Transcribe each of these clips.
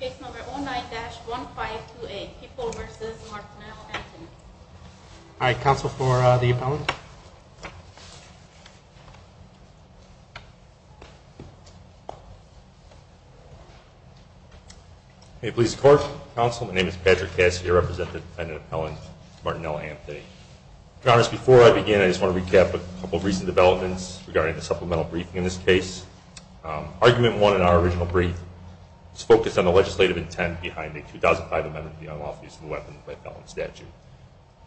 case number. Oh, my gosh, 1528 people versus I counsel for the police court. Councilman is Patrick Cassidy, a representative of Helen Martinell Anthony. Drs. Before I begin, I just wanna recap a couple of recent developments regarding the supplemental briefing in this case. Argument one in our original brief was focused on the legislative intent behind the 2005 amendment to the unlawful use of a weapon by a felon statute,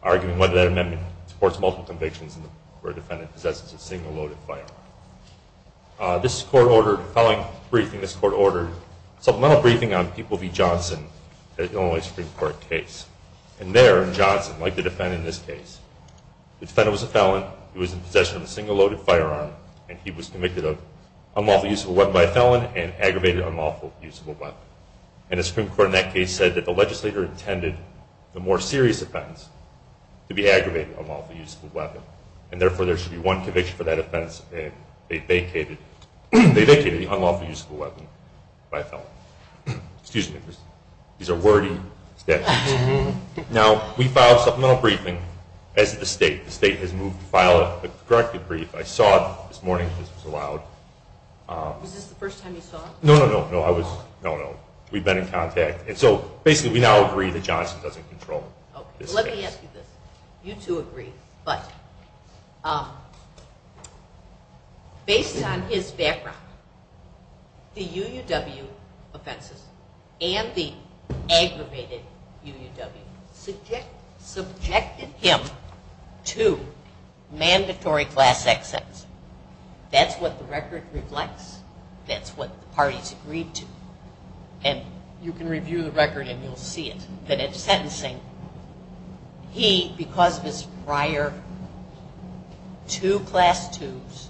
arguing whether that amendment supports multiple convictions where a defendant possesses a single loaded firearm. This court ordered, following the briefing, this court ordered supplemental briefing on people v. Johnson in Illinois Supreme Court case. And there, Johnson, like the defendant in this case, the defendant was a felon, he was in possession of a single loaded firearm, and he was using a weapon by a felon and aggravated unlawful use of a weapon. And the Supreme Court in that case said that the legislator intended the more serious offense to be aggravated unlawful use of a weapon, and therefore there should be one conviction for that offense. They vacated the unlawful use of a weapon by a felon. Excuse me, these are wordy statutes. Now, we filed supplemental briefing as the state. The state has moved to file a corrective brief. I saw this morning, this was allowed. Was this the first time you saw it? No, no, no, no, I was, no, no, we've been in contact. And so basically we now agree that Johnson doesn't control this case. Okay, let me ask you this. You two agree, but based on his background, the UUW offenses and the aggravated UUW subjected him to mandatory class X sentencing. That's what the record reflects. That's what the parties agreed to. And you can review the record and you'll see it. That at sentencing, he, because of his prior two class twos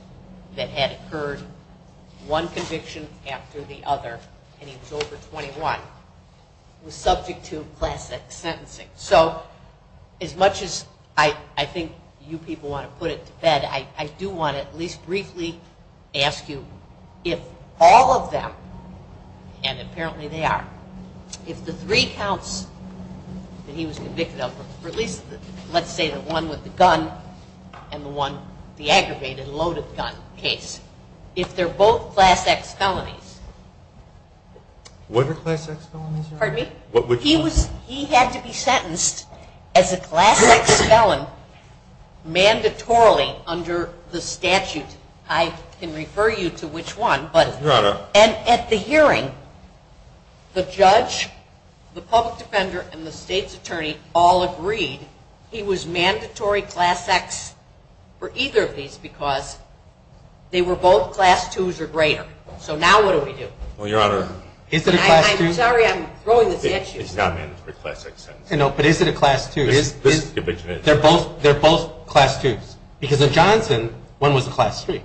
that had occurred, one conviction after the other, and he was over 21, was put to bed, I do want to at least briefly ask you if all of them, and apparently they are, if the three counts that he was convicted of, or at least let's say the one with the gun and the one, the aggravated loaded gun case, if they're both class X felonies. What are class X felonies? Pardon me? He had to be sentenced as a class X felon mandatorily under the statute. I can refer you to which one, but at the hearing, the judge, the public defender, and the state's attorney all agreed he was mandatory class X for either of these because they were both class twos or greater. So now what do we do? Is it a class two? I'm sorry, I'm throwing this at you. It's not mandatory class X sentencing. No, but is it a class two? They're both class twos. Because in Johnson, one was a class three.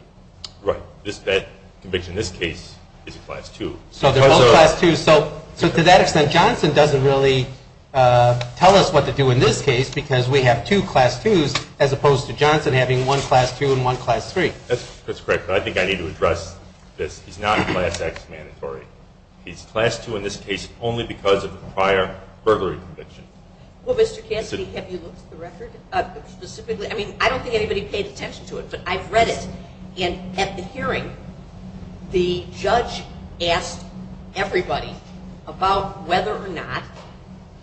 Right. That conviction in this case is a class two. So they're both class twos. So to that extent, Johnson doesn't really tell us what to do in this case because we have two class twos as opposed to Johnson having one class two and one class three. That's correct, but I don't think anybody paid attention to it, but I've read it, and at the hearing, the judge asked everybody about whether or not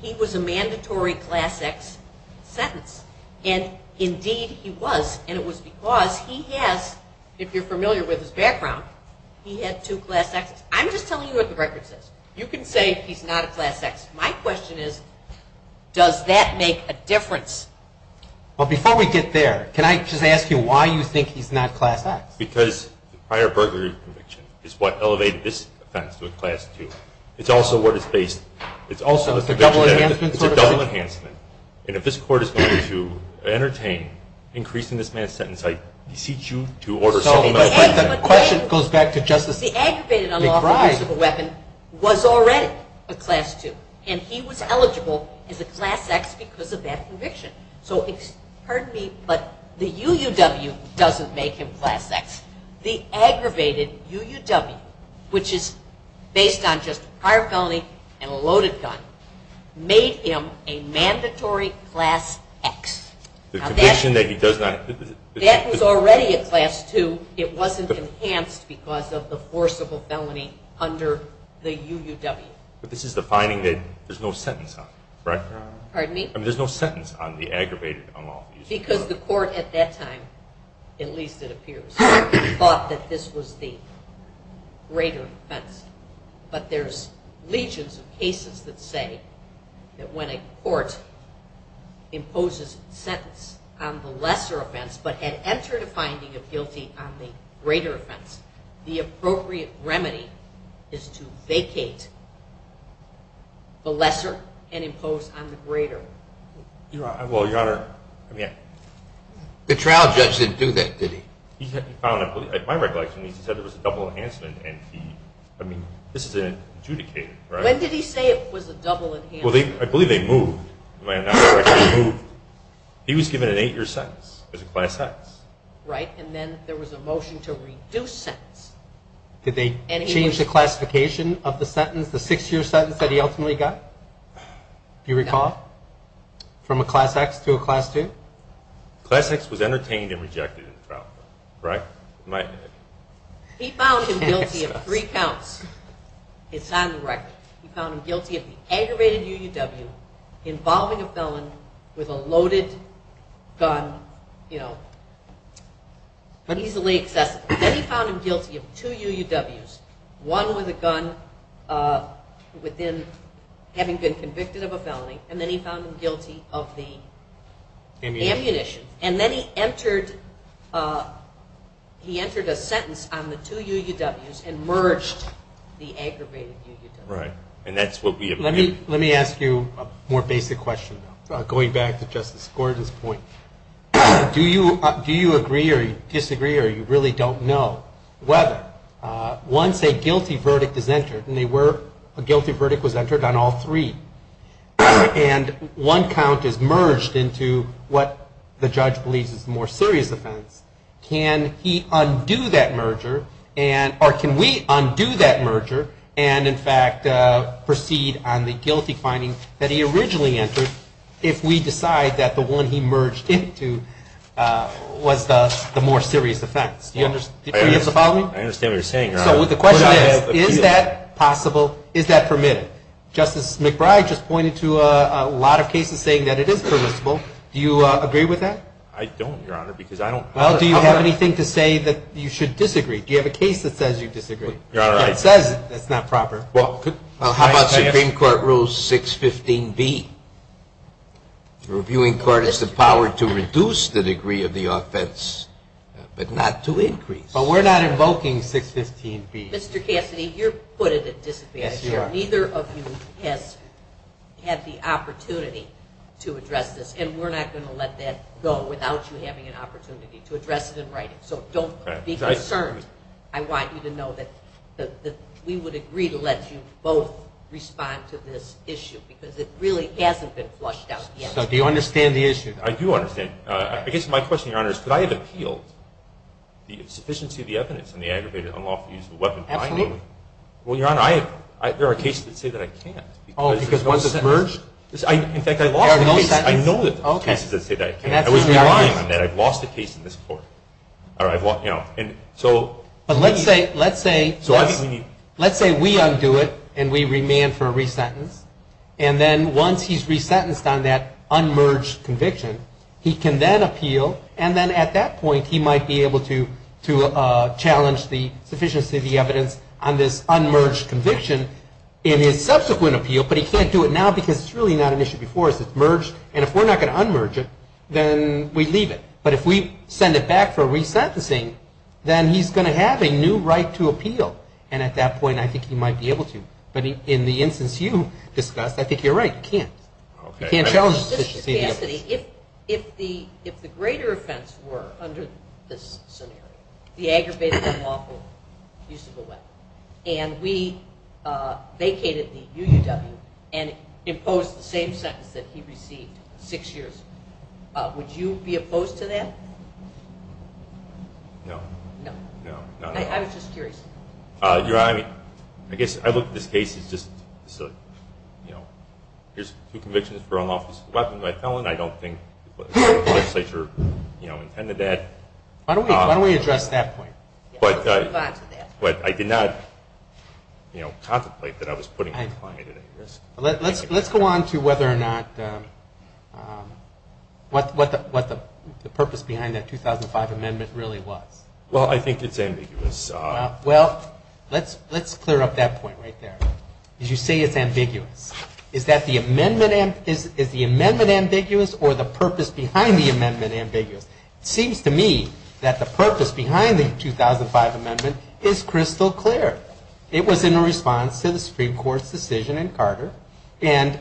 he was a mandatory class X sentence, and indeed, he was, and it was because he has, if you're familiar with his background, he had two class Xs. I'm just telling you what the record says. You can say he's not a class X. My question is, does that make a difference? Well, before we get there, can I just ask you why you think he's not class X? Because the prior burglary conviction is what elevated this offense to a class two. It's also what is based, it's also a double enhancement. It's a double enhancement, and if this court is going to entertain increasing this man's sentence, I beseech you to order settlement. The question goes back to Justice McBride. The aggravated unlawful use of a weapon was already a class two, and he was eligible as a class X because of that conviction. So pardon me, but the UUW doesn't make him class X. The aggravated UUW, which is based on just prior felony and a loaded gun, made him a mandatory class X. The conviction that he does not... That was already a class two. It wasn't enhanced because of the forcible felony under the UUW. But this is the finding that there's no sentence on it, right? Pardon me? There's no sentence on the aggravated unlawful use of a weapon. Because the court at that time, at least it appears, thought that this was the greater offense. But there's legions of cases that say that when a court imposes a sentence on the lesser offense but had entered a finding of guilty on the greater offense, the appropriate remedy is to vacate the lesser and impose on the greater. The trial judge didn't do that, did he? My recollection is he said there was a double enhancement, and he... I mean, this is an adjudicator, right? When did he say it was a double enhancement? I believe they moved. He was given an eight-year sentence as a class X. Right, and then there was a motion to reduce sentence. Did they change the classification of the sentence, the six-year sentence that he ultimately got? Do you recall? From a class X to a class two? Class X was entertained and rejected in the trial, right? He found him guilty of three counts. It's on the record. He found him guilty of the aggravated UUW involving a felon with a loaded gun, you know, easily accessible. Then he found him guilty of two UUWs, one with a gun within having been convicted of a felony, and then he found him guilty of the ammunition. And then he entered a sentence on the two UUWs and merged the aggravated UUWs. Right, and that's what we... Let me ask you a more basic question, going back to Justice Gordon's point. Do you agree or disagree or you really don't know whether, once a guilty verdict is entered, and they were, a guilty verdict was entered on all three, and one count is merged into what the judge believes is a more serious offense. Can he undo that merger and, or can we undo that merger and, in fact, proceed on the guilty finding that he originally entered if we decide that the one he merged into was the more serious offense? Do you have the following? I understand what you're saying, Your Honor. So the question is, is that possible? Is that permitted? Justice McBride just pointed to a lot of cases saying that it is permissible. Do you agree with that? I don't, Your Honor, because I don't... Well, do you have anything to say that you should disagree? Do you have a case that says you disagree? Your Honor, I... That says it's not proper. Well, how about Supreme Court Rule 615B? Reviewing court has the power to reduce the degree of the offense, but not to increase. But we're not invoking 615B. Mr. Cassidy, you're put at a disadvantage here. Neither of you has had the opportunity to address this, and we're not going to let that go without you having an opportunity to address it in writing. So don't be concerned. I want you to know that we would agree to let you both respond to this issue, because it really hasn't been flushed out yet. So do you understand the issue? I do understand. I guess my question, Your Honor, is could I have appealed the sufficiency of the evidence on the aggravated unlawful use of a weapon behind me? Absolutely. Well, Your Honor, there are cases that say that I can't. Oh, because once it's merged? In fact, I lost the case. I know that there are cases that say that I can't. I wasn't relying on that. I've lost a case in this court. But let's say we undo it, and we remand for a resentence. And then once he's resentenced on that unmerged conviction, he can then appeal. And then at that point, he might be able to challenge the sufficiency of the evidence on this unmerged conviction in his subsequent appeal. But he can't do it now, because it's really not an issue before. It's merged. And if we're not going to unmerge it, then we leave it. But if we send it back for resentencing, then he's going to have a new right to appeal. And at that point, I think he might be able to. But in the instance you discussed, I think you're right. You can't. You can't challenge the sufficiency of the evidence. If the greater offense were under this scenario, the aggravated unlawful use of a weapon, and we vacated the UUW and imposed the same sentence that he received six years ago, would you be opposed to that? No. No. No. I was just curious. You're right. I mean, I guess I look at this case as just, you know, here's two convictions for unlawful use of a weapon. I don't think the legislature intended that. Why don't we address that point? Let's move on to that. But I did not, you know, contemplate that I was putting my client at any risk. Let's go on to whether or not what the purpose behind that 2005 amendment really was. Well, I think it's ambiguous. Well, let's clear up that point right there. You say it's ambiguous. Is the amendment ambiguous or the purpose behind the amendment ambiguous? It seems to me that the purpose behind the 2005 amendment is crystal clear. It was in response to the Supreme Court's decision in Carter. And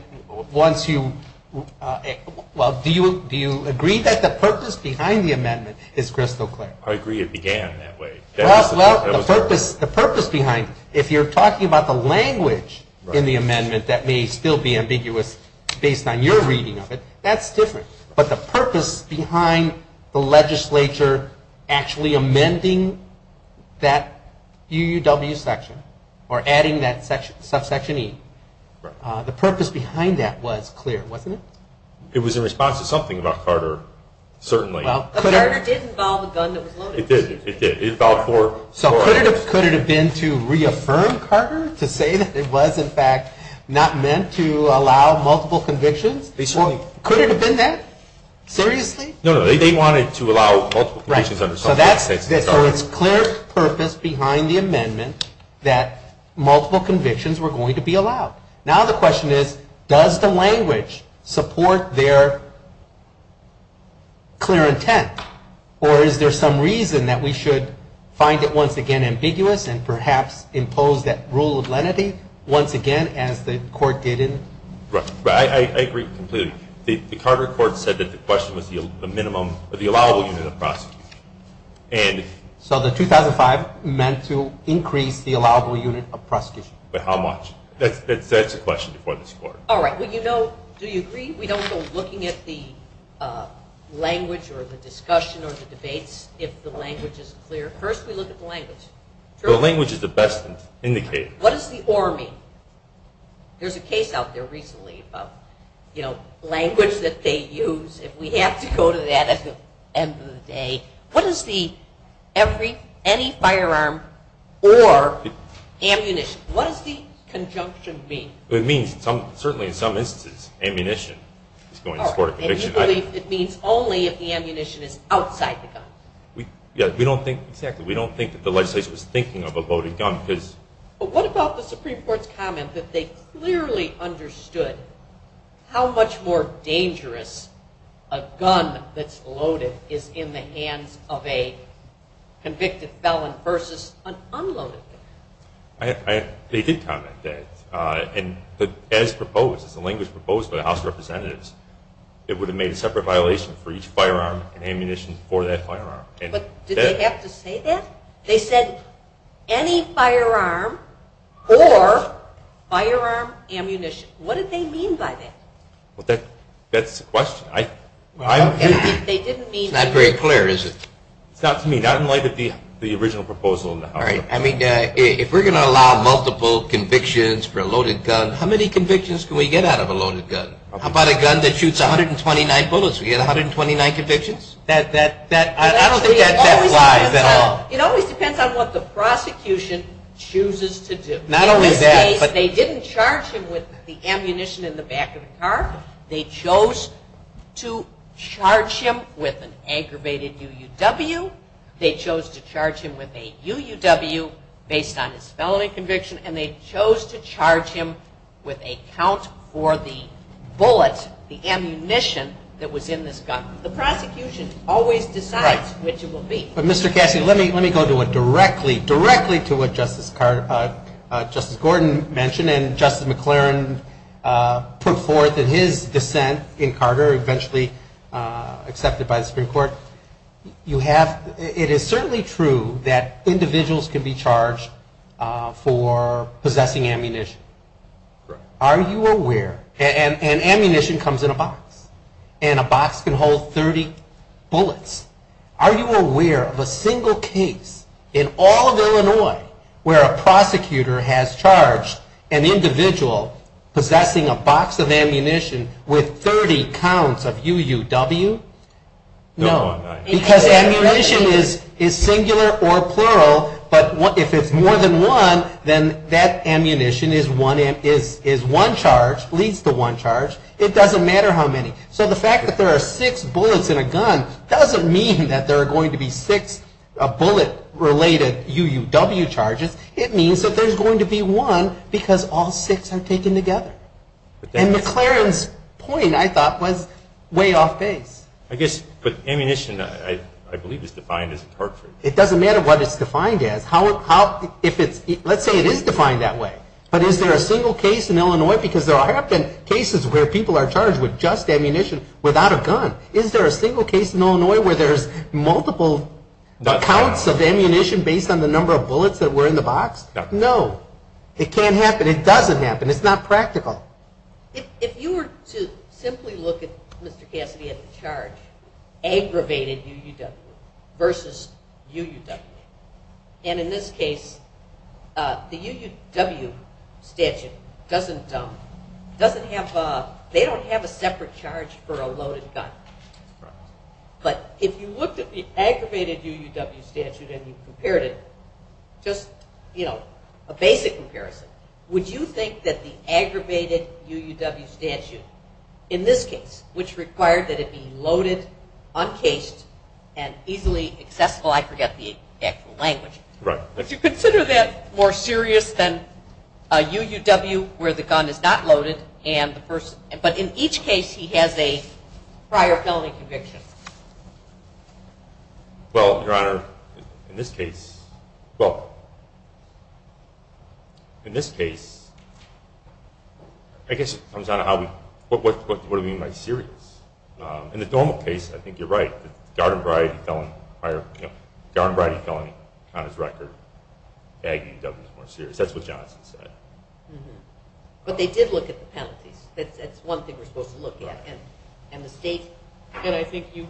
once you – well, do you agree that the purpose behind the amendment is crystal clear? I agree it began that way. Well, the purpose behind – if you're talking about the language in the amendment that may still be ambiguous based on your reading of it, that's different. But the purpose behind the legislature actually amending that UUW section or adding that subsection E, the purpose behind that was clear, wasn't it? It was in response to something about Carter, certainly. But Carter did involve a gun that was loaded. It did, it did. It involved four – So could it have been to reaffirm Carter, to say that it was, in fact, not meant to allow multiple convictions? Could it have been that? Seriously? No, no. They wanted to allow multiple convictions under – Right. So that's – so it's clear purpose behind the amendment that multiple convictions were going to be allowed. Now the question is, does the language support their clear intent? Or is there some reason that we should find it once again ambiguous and perhaps impose that rule of lenity once again as the court did in – Right. I agree completely. The Carter court said that the question was the minimum – the allowable unit of prosecution. And – So the 2005 meant to increase the allowable unit of prosecution. But how much? That's the question before this court. All right. Well, you know, do you agree we don't go looking at the language or the discussion or the debates if the language is clear? First we look at the language. The language is the best indicator. What does the or mean? There's a case out there recently about, you know, language that they use. If we have to go to that at the end of the day. What does the every – any firearm or ammunition – what does the conjunction mean? It means some – certainly in some instances ammunition is going to support a conviction. All right. And you believe it means only if the ammunition is outside the gun? Yeah. We don't think – exactly. We don't think that the legislation is thinking of a loaded gun because – But what about the Supreme Court's comment that they clearly understood how much more dangerous a gun that's loaded is in the hands of a convicted felon versus an unloaded gun? They did comment that. And as proposed, as the language proposed by the House of Representatives, it would have made a separate violation for each firearm and ammunition for that firearm. But did they have to say that? They said any firearm or firearm ammunition. What did they mean by that? That's the question. I – They didn't mean – It's not very clear, is it? It's not to me. Not in light of the original proposal in the House of Representatives. All right. I mean, if we're going to allow multiple convictions for a loaded gun, how many convictions can we get out of a loaded gun? How about a gun that shoots 129 bullets? We get 129 convictions? That – I don't think that applies at all. It always depends on what the prosecution chooses to do. Not only that – In this case, they didn't charge him with the ammunition in the back of the car. They chose to charge him with an aggravated UUW. They chose to charge him with a UUW based on his felony conviction. And they chose to charge him with a count for the bullet, the ammunition that was in this gun. The prosecution always decides which it will be. Mr. Cassidy, let me go to a – directly, directly to what Justice Gordon mentioned and Justice McLaren put forth in his dissent in Carter, eventually accepted by the Supreme Court. You have – it is certainly true that individuals can be charged for possessing ammunition. Are you aware – and ammunition comes in a box. And a box can hold 30 bullets. Are you aware of a single case in all of Illinois where a prosecutor has charged an individual possessing a box of ammunition with 30 counts of UUW? No. Because ammunition is singular or plural. But if it's more than one, then that ammunition is one charge, leads to one charge. It doesn't matter how many. So the fact that there are six bullets in a gun doesn't mean that there are going to be six bullet-related UUW charges. It means that there's going to be one because all six are taken together. And McLaren's point, I thought, was way off base. I guess – but ammunition, I believe, is defined as a target. It doesn't matter what it's defined as. How – if it's – let's say it is defined that way. But is there a single case in Illinois? Because there have been cases where people are charged with just ammunition without a gun. Is there a single case in Illinois where there's multiple counts of ammunition based on the number of bullets that were in the box? No. It can't happen. It doesn't happen. It's not practical. If you were to simply look at Mr. Cassidy at the charge, aggravated UUW versus UUW, and in this case, the UUW statute doesn't have – they don't have a separate charge for a loaded gun. But if you looked at the aggravated UUW statute and you compared it, just a basic comparison, would you think that the aggravated UUW statute in this case, which required that it be loaded, uncased, and easily accessible – oh, I forget the actual language. Right. Would you consider that more serious than a UUW where the gun is not loaded and the person – but in each case he has a prior felony conviction? Well, Your Honor, in this case – well, in this case, I guess it comes down to how we – what do we mean by serious? In the normal case, I think you're right. The Gardenbride felony on his record, ag UUW is more serious. That's what Johnson said. But they did look at the penalties. That's one thing we're supposed to look at. And the state – and I think you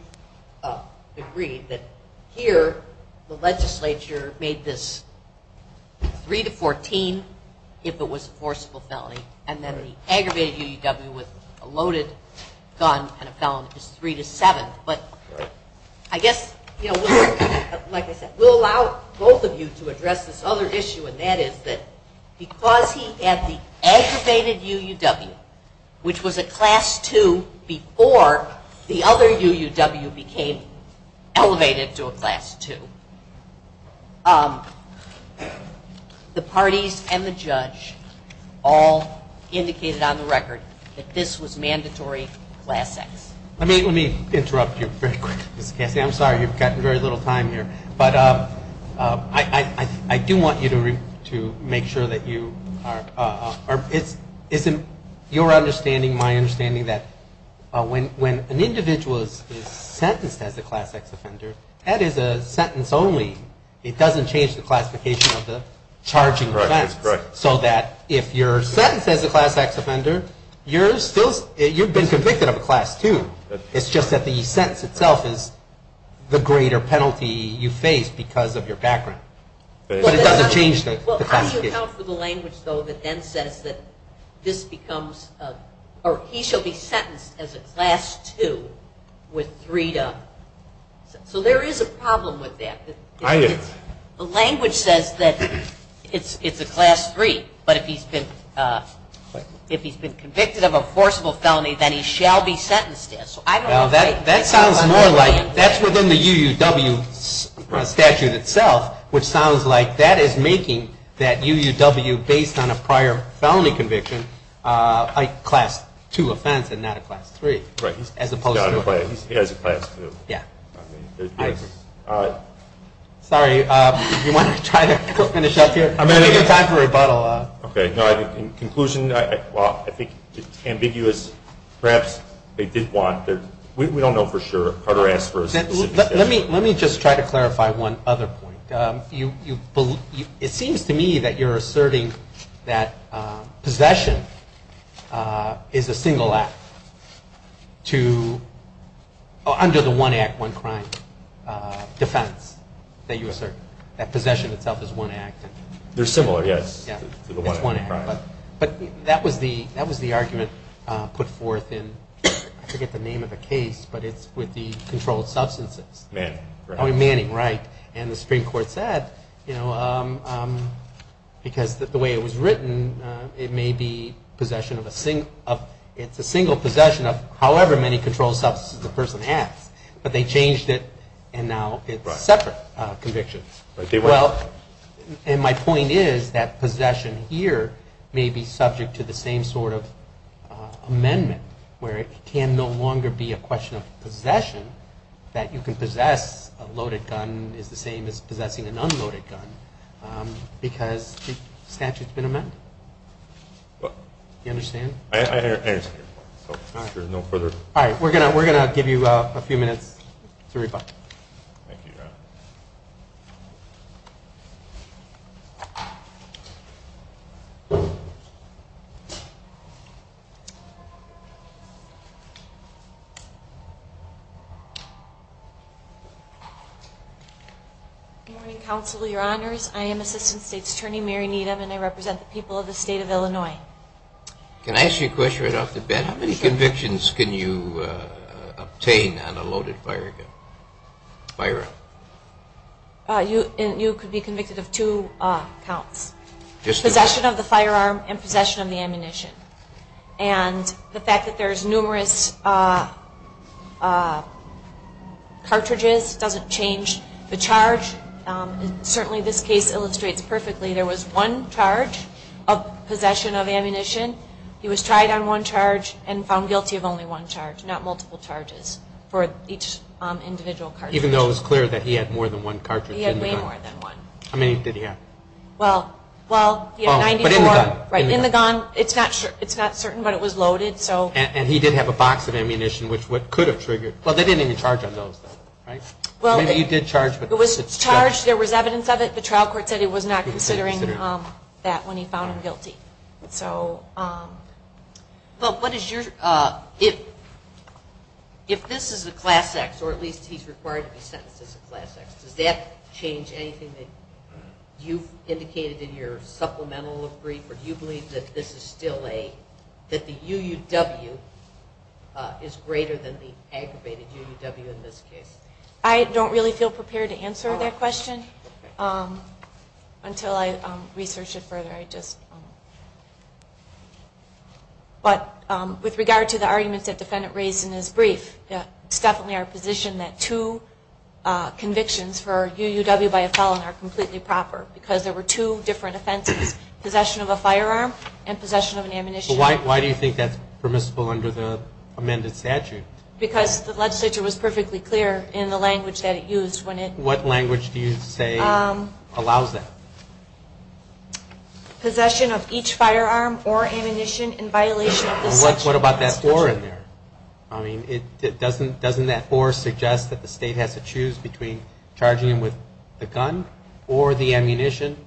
agree that here the legislature made this 3 to 14 if it was a forcible felony, and then the aggravated UUW with a loaded gun and a felony is 3 to 7. But I guess, you know, like I said, we'll allow both of you to address this other issue, and that is that because he had the aggravated UUW, which was a Class 2 before the other UUW became elevated to a Class 2, the parties and the judge all indicated on the record that this was mandatory Class X. Let me interrupt you very quick, Ms. Cassey. I'm sorry. You've gotten very little time here. But I do want you to make sure that you are – it's your understanding, my understanding, that when an individual is sentenced as a Class X offender, that is a sentence only. It doesn't change the classification of the charging offense. That's correct. So that if you're sentenced as a Class X offender, you're still – you've been convicted of a Class 2. It's just that the sentence itself is the greater penalty you face because of your background. But it doesn't change the classification. Can you account for the language, though, that then says that this becomes – or he shall be sentenced as a Class 2 with three to – so there is a problem with that. The language says that it's a Class 3. But if he's been convicted of a forcible felony, then he shall be sentenced. Well, that sounds more like – that's within the UUW statute itself, which sounds like that is making that UUW, based on a prior felony conviction, a Class 2 offense and not a Class 3. Right. As opposed to – He has a Class 2. Yeah. I agree. Sorry. Do you want to try to finish up here? I'm going to give you time for rebuttal. Okay. In conclusion, I think it's ambiguous. Perhaps they did want – we don't know for sure. Carter asked for a specific statute. Let me just try to clarify one other point. It seems to me that you're asserting that possession is a single act to – under the one act, one crime defense that you assert, that possession itself is one act. They're similar, yes, to the one act, one crime. But that was the argument put forth in – I forget the name of the case, but it's with the controlled substances. Manning. Oh, Manning, right. And the Supreme Court said, you know, because the way it was written, it may be possession of a single – it's a single possession of however many controlled substances the person has. But they changed it, and now it's a separate conviction. Well, and my point is that possession here may be subject to the same sort of amendment, where it can no longer be a question of possession. That you can possess a loaded gun is the same as possessing an unloaded gun because the statute's been amended. Do you understand? I understand your point. All right. We're going to give you a few minutes to reply. Thank you, Your Honor. Good morning, Counsel, Your Honors. I am Assistant State's Attorney Mary Needham, and I represent the people of the State of Illinois. Can I ask you a question right off the bat? How many convictions can you obtain on a loaded firearm? You could be convicted of two counts, possession of the firearm and possession of the ammunition. And the fact that there's numerous cartridges doesn't change the charge. Certainly this case illustrates perfectly. There was one charge of possession of ammunition. He was tried on one charge and found guilty of only one charge, not multiple charges for each individual cartridge. Even though it was clear that he had more than one cartridge in the gun. He had way more than one. How many did he have? Well, 94. Oh, but in the gun. Right, in the gun. It's not certain, but it was loaded. And he did have a box of ammunition, which could have triggered. Well, they didn't even charge on those, though, right? Maybe he did charge. It was charged. There was evidence of it. The trial court said it was not considering that when he found him guilty. Well, if this is a Class X, or at least he's required to be sentenced as a Class X, does that change anything that you've indicated in your supplemental brief? Or do you believe that the UUW is greater than the aggravated UUW in this case? I don't really feel prepared to answer that question until I research it further. But with regard to the arguments that the defendant raised in his brief, it's definitely our position that two convictions for UUW by a felon are completely proper, because there were two different offenses, possession of a firearm and possession of an ammunition. Why do you think that's permissible under the amended statute? Because the legislature was perfectly clear in the language that it used. What language do you say allows that? Possession of each firearm or ammunition in violation of the statute. What about that 4 in there? I mean, doesn't that 4 suggest that the state has to choose between charging him with the gun or the ammunition,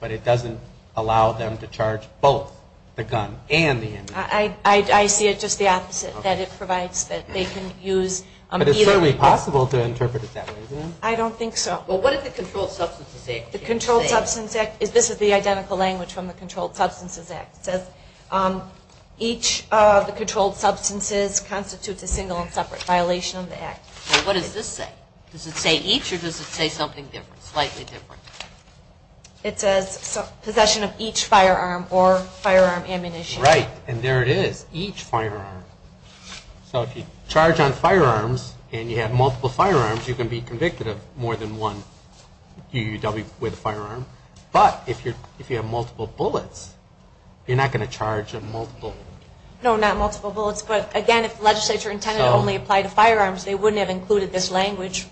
but it doesn't allow them to charge both the gun and the ammunition? I see it just the opposite, that it provides that they can use either. But it's certainly possible to interpret it that way, isn't it? I don't think so. Well, what did the controlled substance say? The controlled substance act, this is the identical language from the controlled substances act. It says each of the controlled substances constitutes a single and separate violation of the act. What does this say? Does it say each or does it say something different, slightly different? It says possession of each firearm or firearm ammunition. Right, and there it is, each firearm. So if you charge on firearms and you have multiple firearms, you can be convicted of more than one UUW with a firearm. But if you have multiple bullets, you're not going to charge a multiple. No, not multiple bullets, but again, if the legislature intended to only apply to firearms, they wouldn't have included this language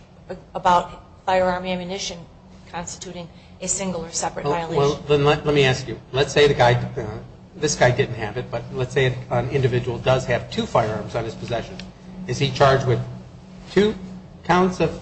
about firearm ammunition constituting a single or separate violation. Well, let me ask you, let's say the guy, this guy didn't have it, but let's say an individual does have two firearms on his possession. Is he charged with two counts of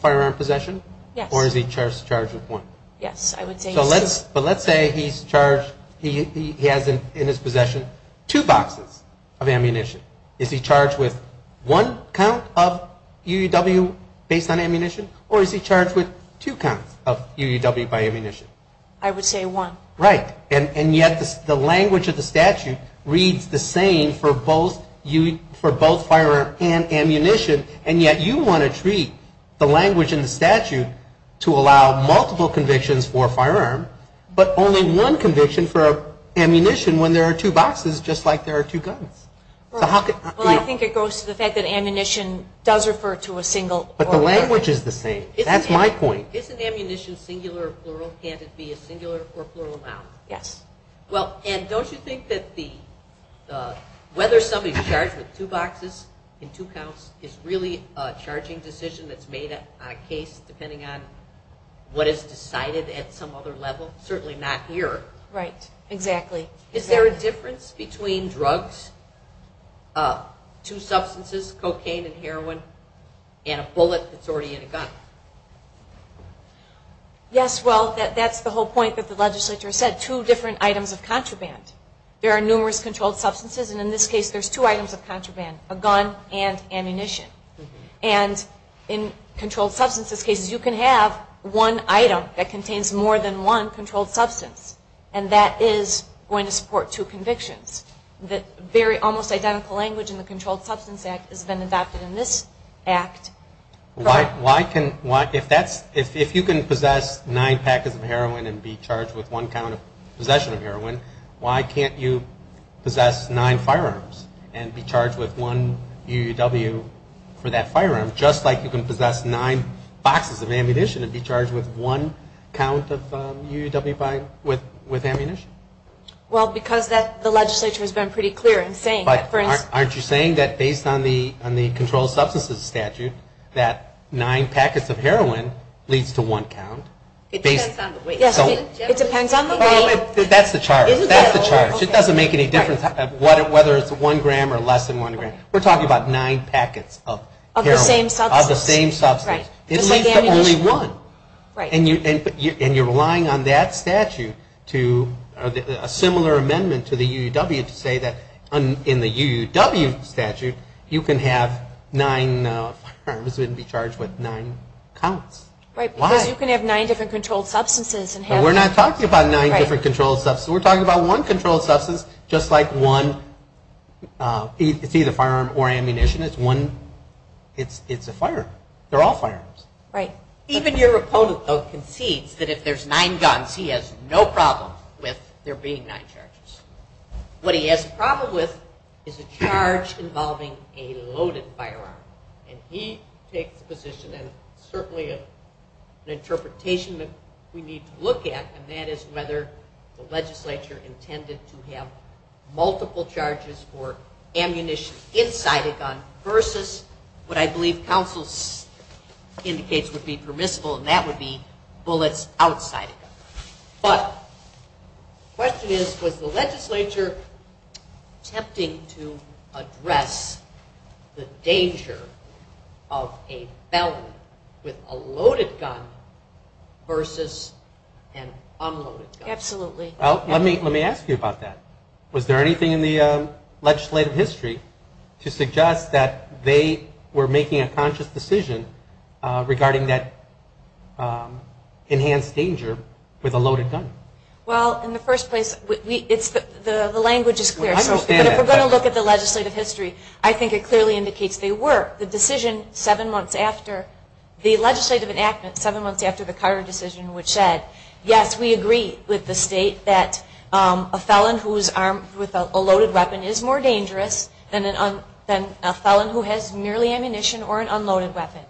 firearm possession? Yes. Or is he charged with one? Yes, I would say so. But let's say he's charged, he has in his possession two boxes of ammunition. Is he charged with one count of UUW based on ammunition or is he charged with two counts of UUW by ammunition? I would say one. Right. And yet the language of the statute reads the same for both firearm and ammunition, and yet you want to treat the language in the statute to allow multiple convictions for a firearm but only one conviction for ammunition when there are two boxes just like there are two guns. Well, I think it goes to the fact that ammunition does refer to a single. But the language is the same. That's my point. Isn't ammunition singular or plural? Can't it be a singular or plural noun? Yes. And don't you think that whether somebody's charged with two boxes and two counts is really a charging decision that's made on a case depending on what is decided at some other level? Certainly not here. Right. Is there a difference between drugs, two substances, cocaine and heroin, and a bullet that's already in a gun? Yes. Well, that's the whole point that the legislature said, two different items of contraband. There are numerous controlled substances, and in this case there's two items of contraband, a gun and ammunition. And in controlled substances cases you can have one item that contains more than one controlled substance, and that is going to support two convictions. Very almost identical language in the Controlled Substance Act has been adopted in this act. If you can possess nine packets of heroin and be charged with one count of possession of heroin, why can't you possess nine firearms and be charged with one UUW for that firearm, just like you can possess nine boxes of ammunition and be charged with one count of UUW with ammunition? Well, because the legislature has been pretty clear in saying that for instance... Aren't you saying that based on the Controlled Substances Statute, that nine packets of heroin leads to one count? It depends on the weight. It depends on the weight. That's the charge. That's the charge. It doesn't make any difference whether it's one gram or less than one gram. We're talking about nine packets of heroin. Of the same substance. Of the same substance. Right. It leads to only one. Right. And you're relying on that statute to a similar amendment to the UUW to say that in the UUW statute, you can have nine firearms and be charged with nine counts. Right. Why? Because you can have nine different controlled substances and have... We're not talking about nine different controlled substances. We're talking about one controlled substance just like one... It's either firearm or ammunition. It's a firearm. They're all firearms. Right. Even your opponent, though, concedes that if there's nine guns, he has no problem with there being nine charges. What he has a problem with is a charge involving a loaded firearm. And he takes a position and certainly an interpretation that we need to look at, and that is whether the legislature intended to have multiple charges for ammunition inside a gun versus what I believe counsel indicates would be permissible, and that would be bullets outside a gun. But the question is, was the legislature attempting to address the danger of a felony with a loaded gun versus an unloaded gun? Absolutely. Well, let me ask you about that. Was there anything in the legislative history to suggest that they were making a conscious decision regarding that enhanced danger with a loaded gun? Well, in the first place, the language is clear. I understand that. But if we're going to look at the legislative history, I think it clearly indicates they were. The decision seven months after the legislative enactment, seven months after the Carter decision which said, yes, we agree with the state that a felon who is armed with a loaded weapon is more dangerous than a felon who has merely ammunition or an unloaded weapon.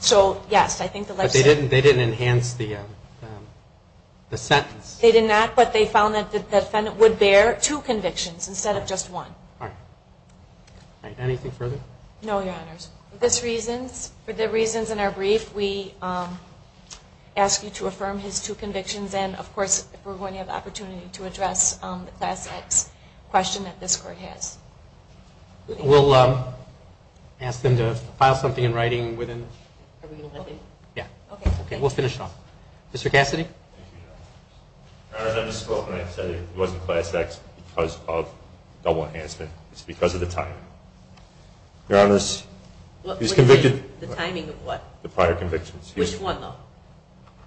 So, yes, I think the legislature. But they didn't enhance the sentence. They did not, but they found that the defendant would bear two convictions instead of just one. All right. All right. Anything further? No, Your Honors. For the reasons in our brief, we ask you to affirm his two convictions and, of course, if we're going to have the opportunity to address the Class X question that this Court has. We'll ask them to file something in writing within. Are we going to let them? Yeah. Okay. We'll finish it off. Mr. Cassidy? Your Honors, I just spoke and I said it wasn't Class X because of double enhancement. It's because of the time. Your Honors, he was convicted. The timing of what? The prior convictions. Which one, though?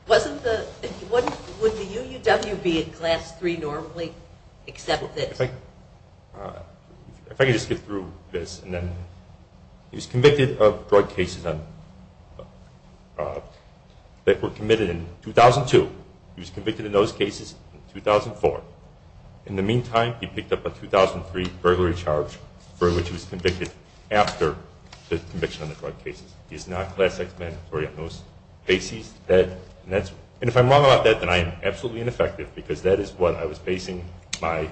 Wouldn't the UUW be in Class III normally except this? If I could just get through this. He was convicted of drug cases that were committed in 2002. He was convicted in those cases in 2004. In the meantime, he picked up a 2003 burglary charge for which he was convicted after the conviction of the drug cases. He's not Class X mandatory on those cases. And if I'm wrong about that, then I am absolutely ineffective because that is what I was basing my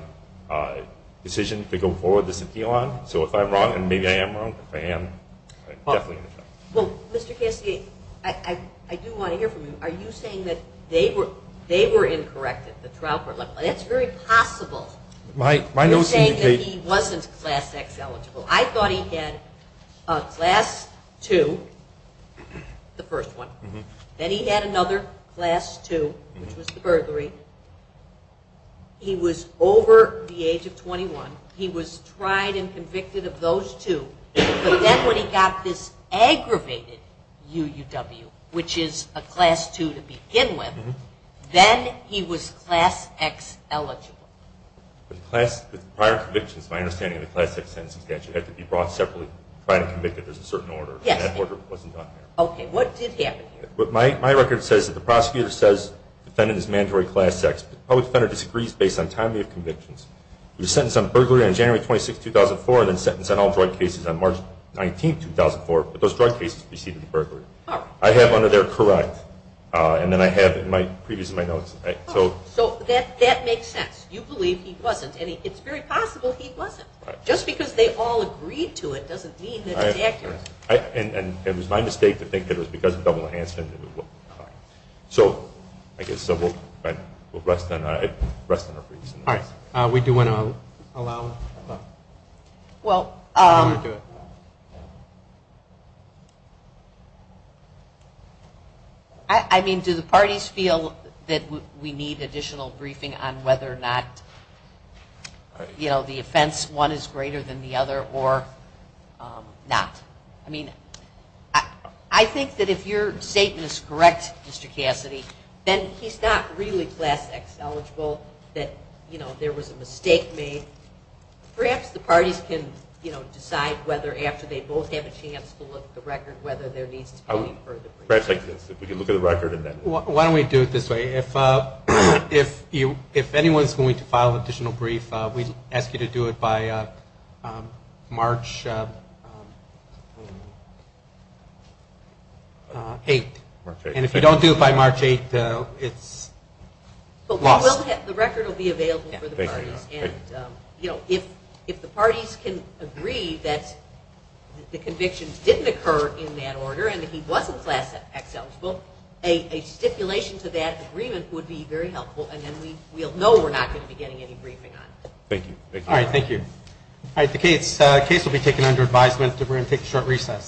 decision to go forward with this appeal on. So if I'm wrong, and maybe I am wrong, if I am, I'm definitely ineffective. Well, Mr. Cassidy, I do want to hear from you. Are you saying that they were incorrect at the trial court level? That's very possible. You're saying that he wasn't Class X eligible. I thought he had a Class II, the first one. Then he had another Class II, which was the burglary. He was over the age of 21. He was tried and convicted of those two. But then when he got this aggravated UUW, which is a Class II to begin with, then he was Class X eligible. With prior convictions, my understanding of the Class X sentencing statute, it had to be brought separately, tried and convicted. There's a certain order. And that order wasn't done there. Okay. What did happen here? My record says that the prosecutor says the defendant is mandatory Class X. The public defender disagrees based on timely convictions. He was sentenced on burglary on January 26, 2004, and then sentenced on all drug cases on March 19, 2004. But those drug cases preceded the burglary. I have under there correct. And then I have in my previous notes. So that makes sense. You believe he wasn't. And it's very possible he wasn't. Just because they all agreed to it doesn't mean that it's accurate. And it was my mistake to think that it was because of double enhancement. So I guess we'll rest on our previous notes. All right. We do want to allow. Well, I mean, do the parties feel that we need additional briefing on whether or not, you know, the offense, one is greater than the other or not? I mean, I think that if your statement is correct, Mr. Cassidy, then he's not really Class X eligible that, you know, there was a mistake made. Perhaps the parties can, you know, decide whether after they both have a chance to look at the record whether there needs to be further briefing. Perhaps like this. If we can look at the record and then. Why don't we do it this way? If anyone is going to file additional brief, we ask you to do it by March 8. And if you don't do it by March 8, it's lost. The record will be available for the parties. And, you know, if the parties can agree that the conviction didn't occur in that order and that he wasn't Class X eligible, a stipulation to that agreement would be very helpful. And then we'll know we're not going to be getting any briefing on it. Thank you. All right. Thank you. All right. The case will be taken under advisement. We're going to take a short recess.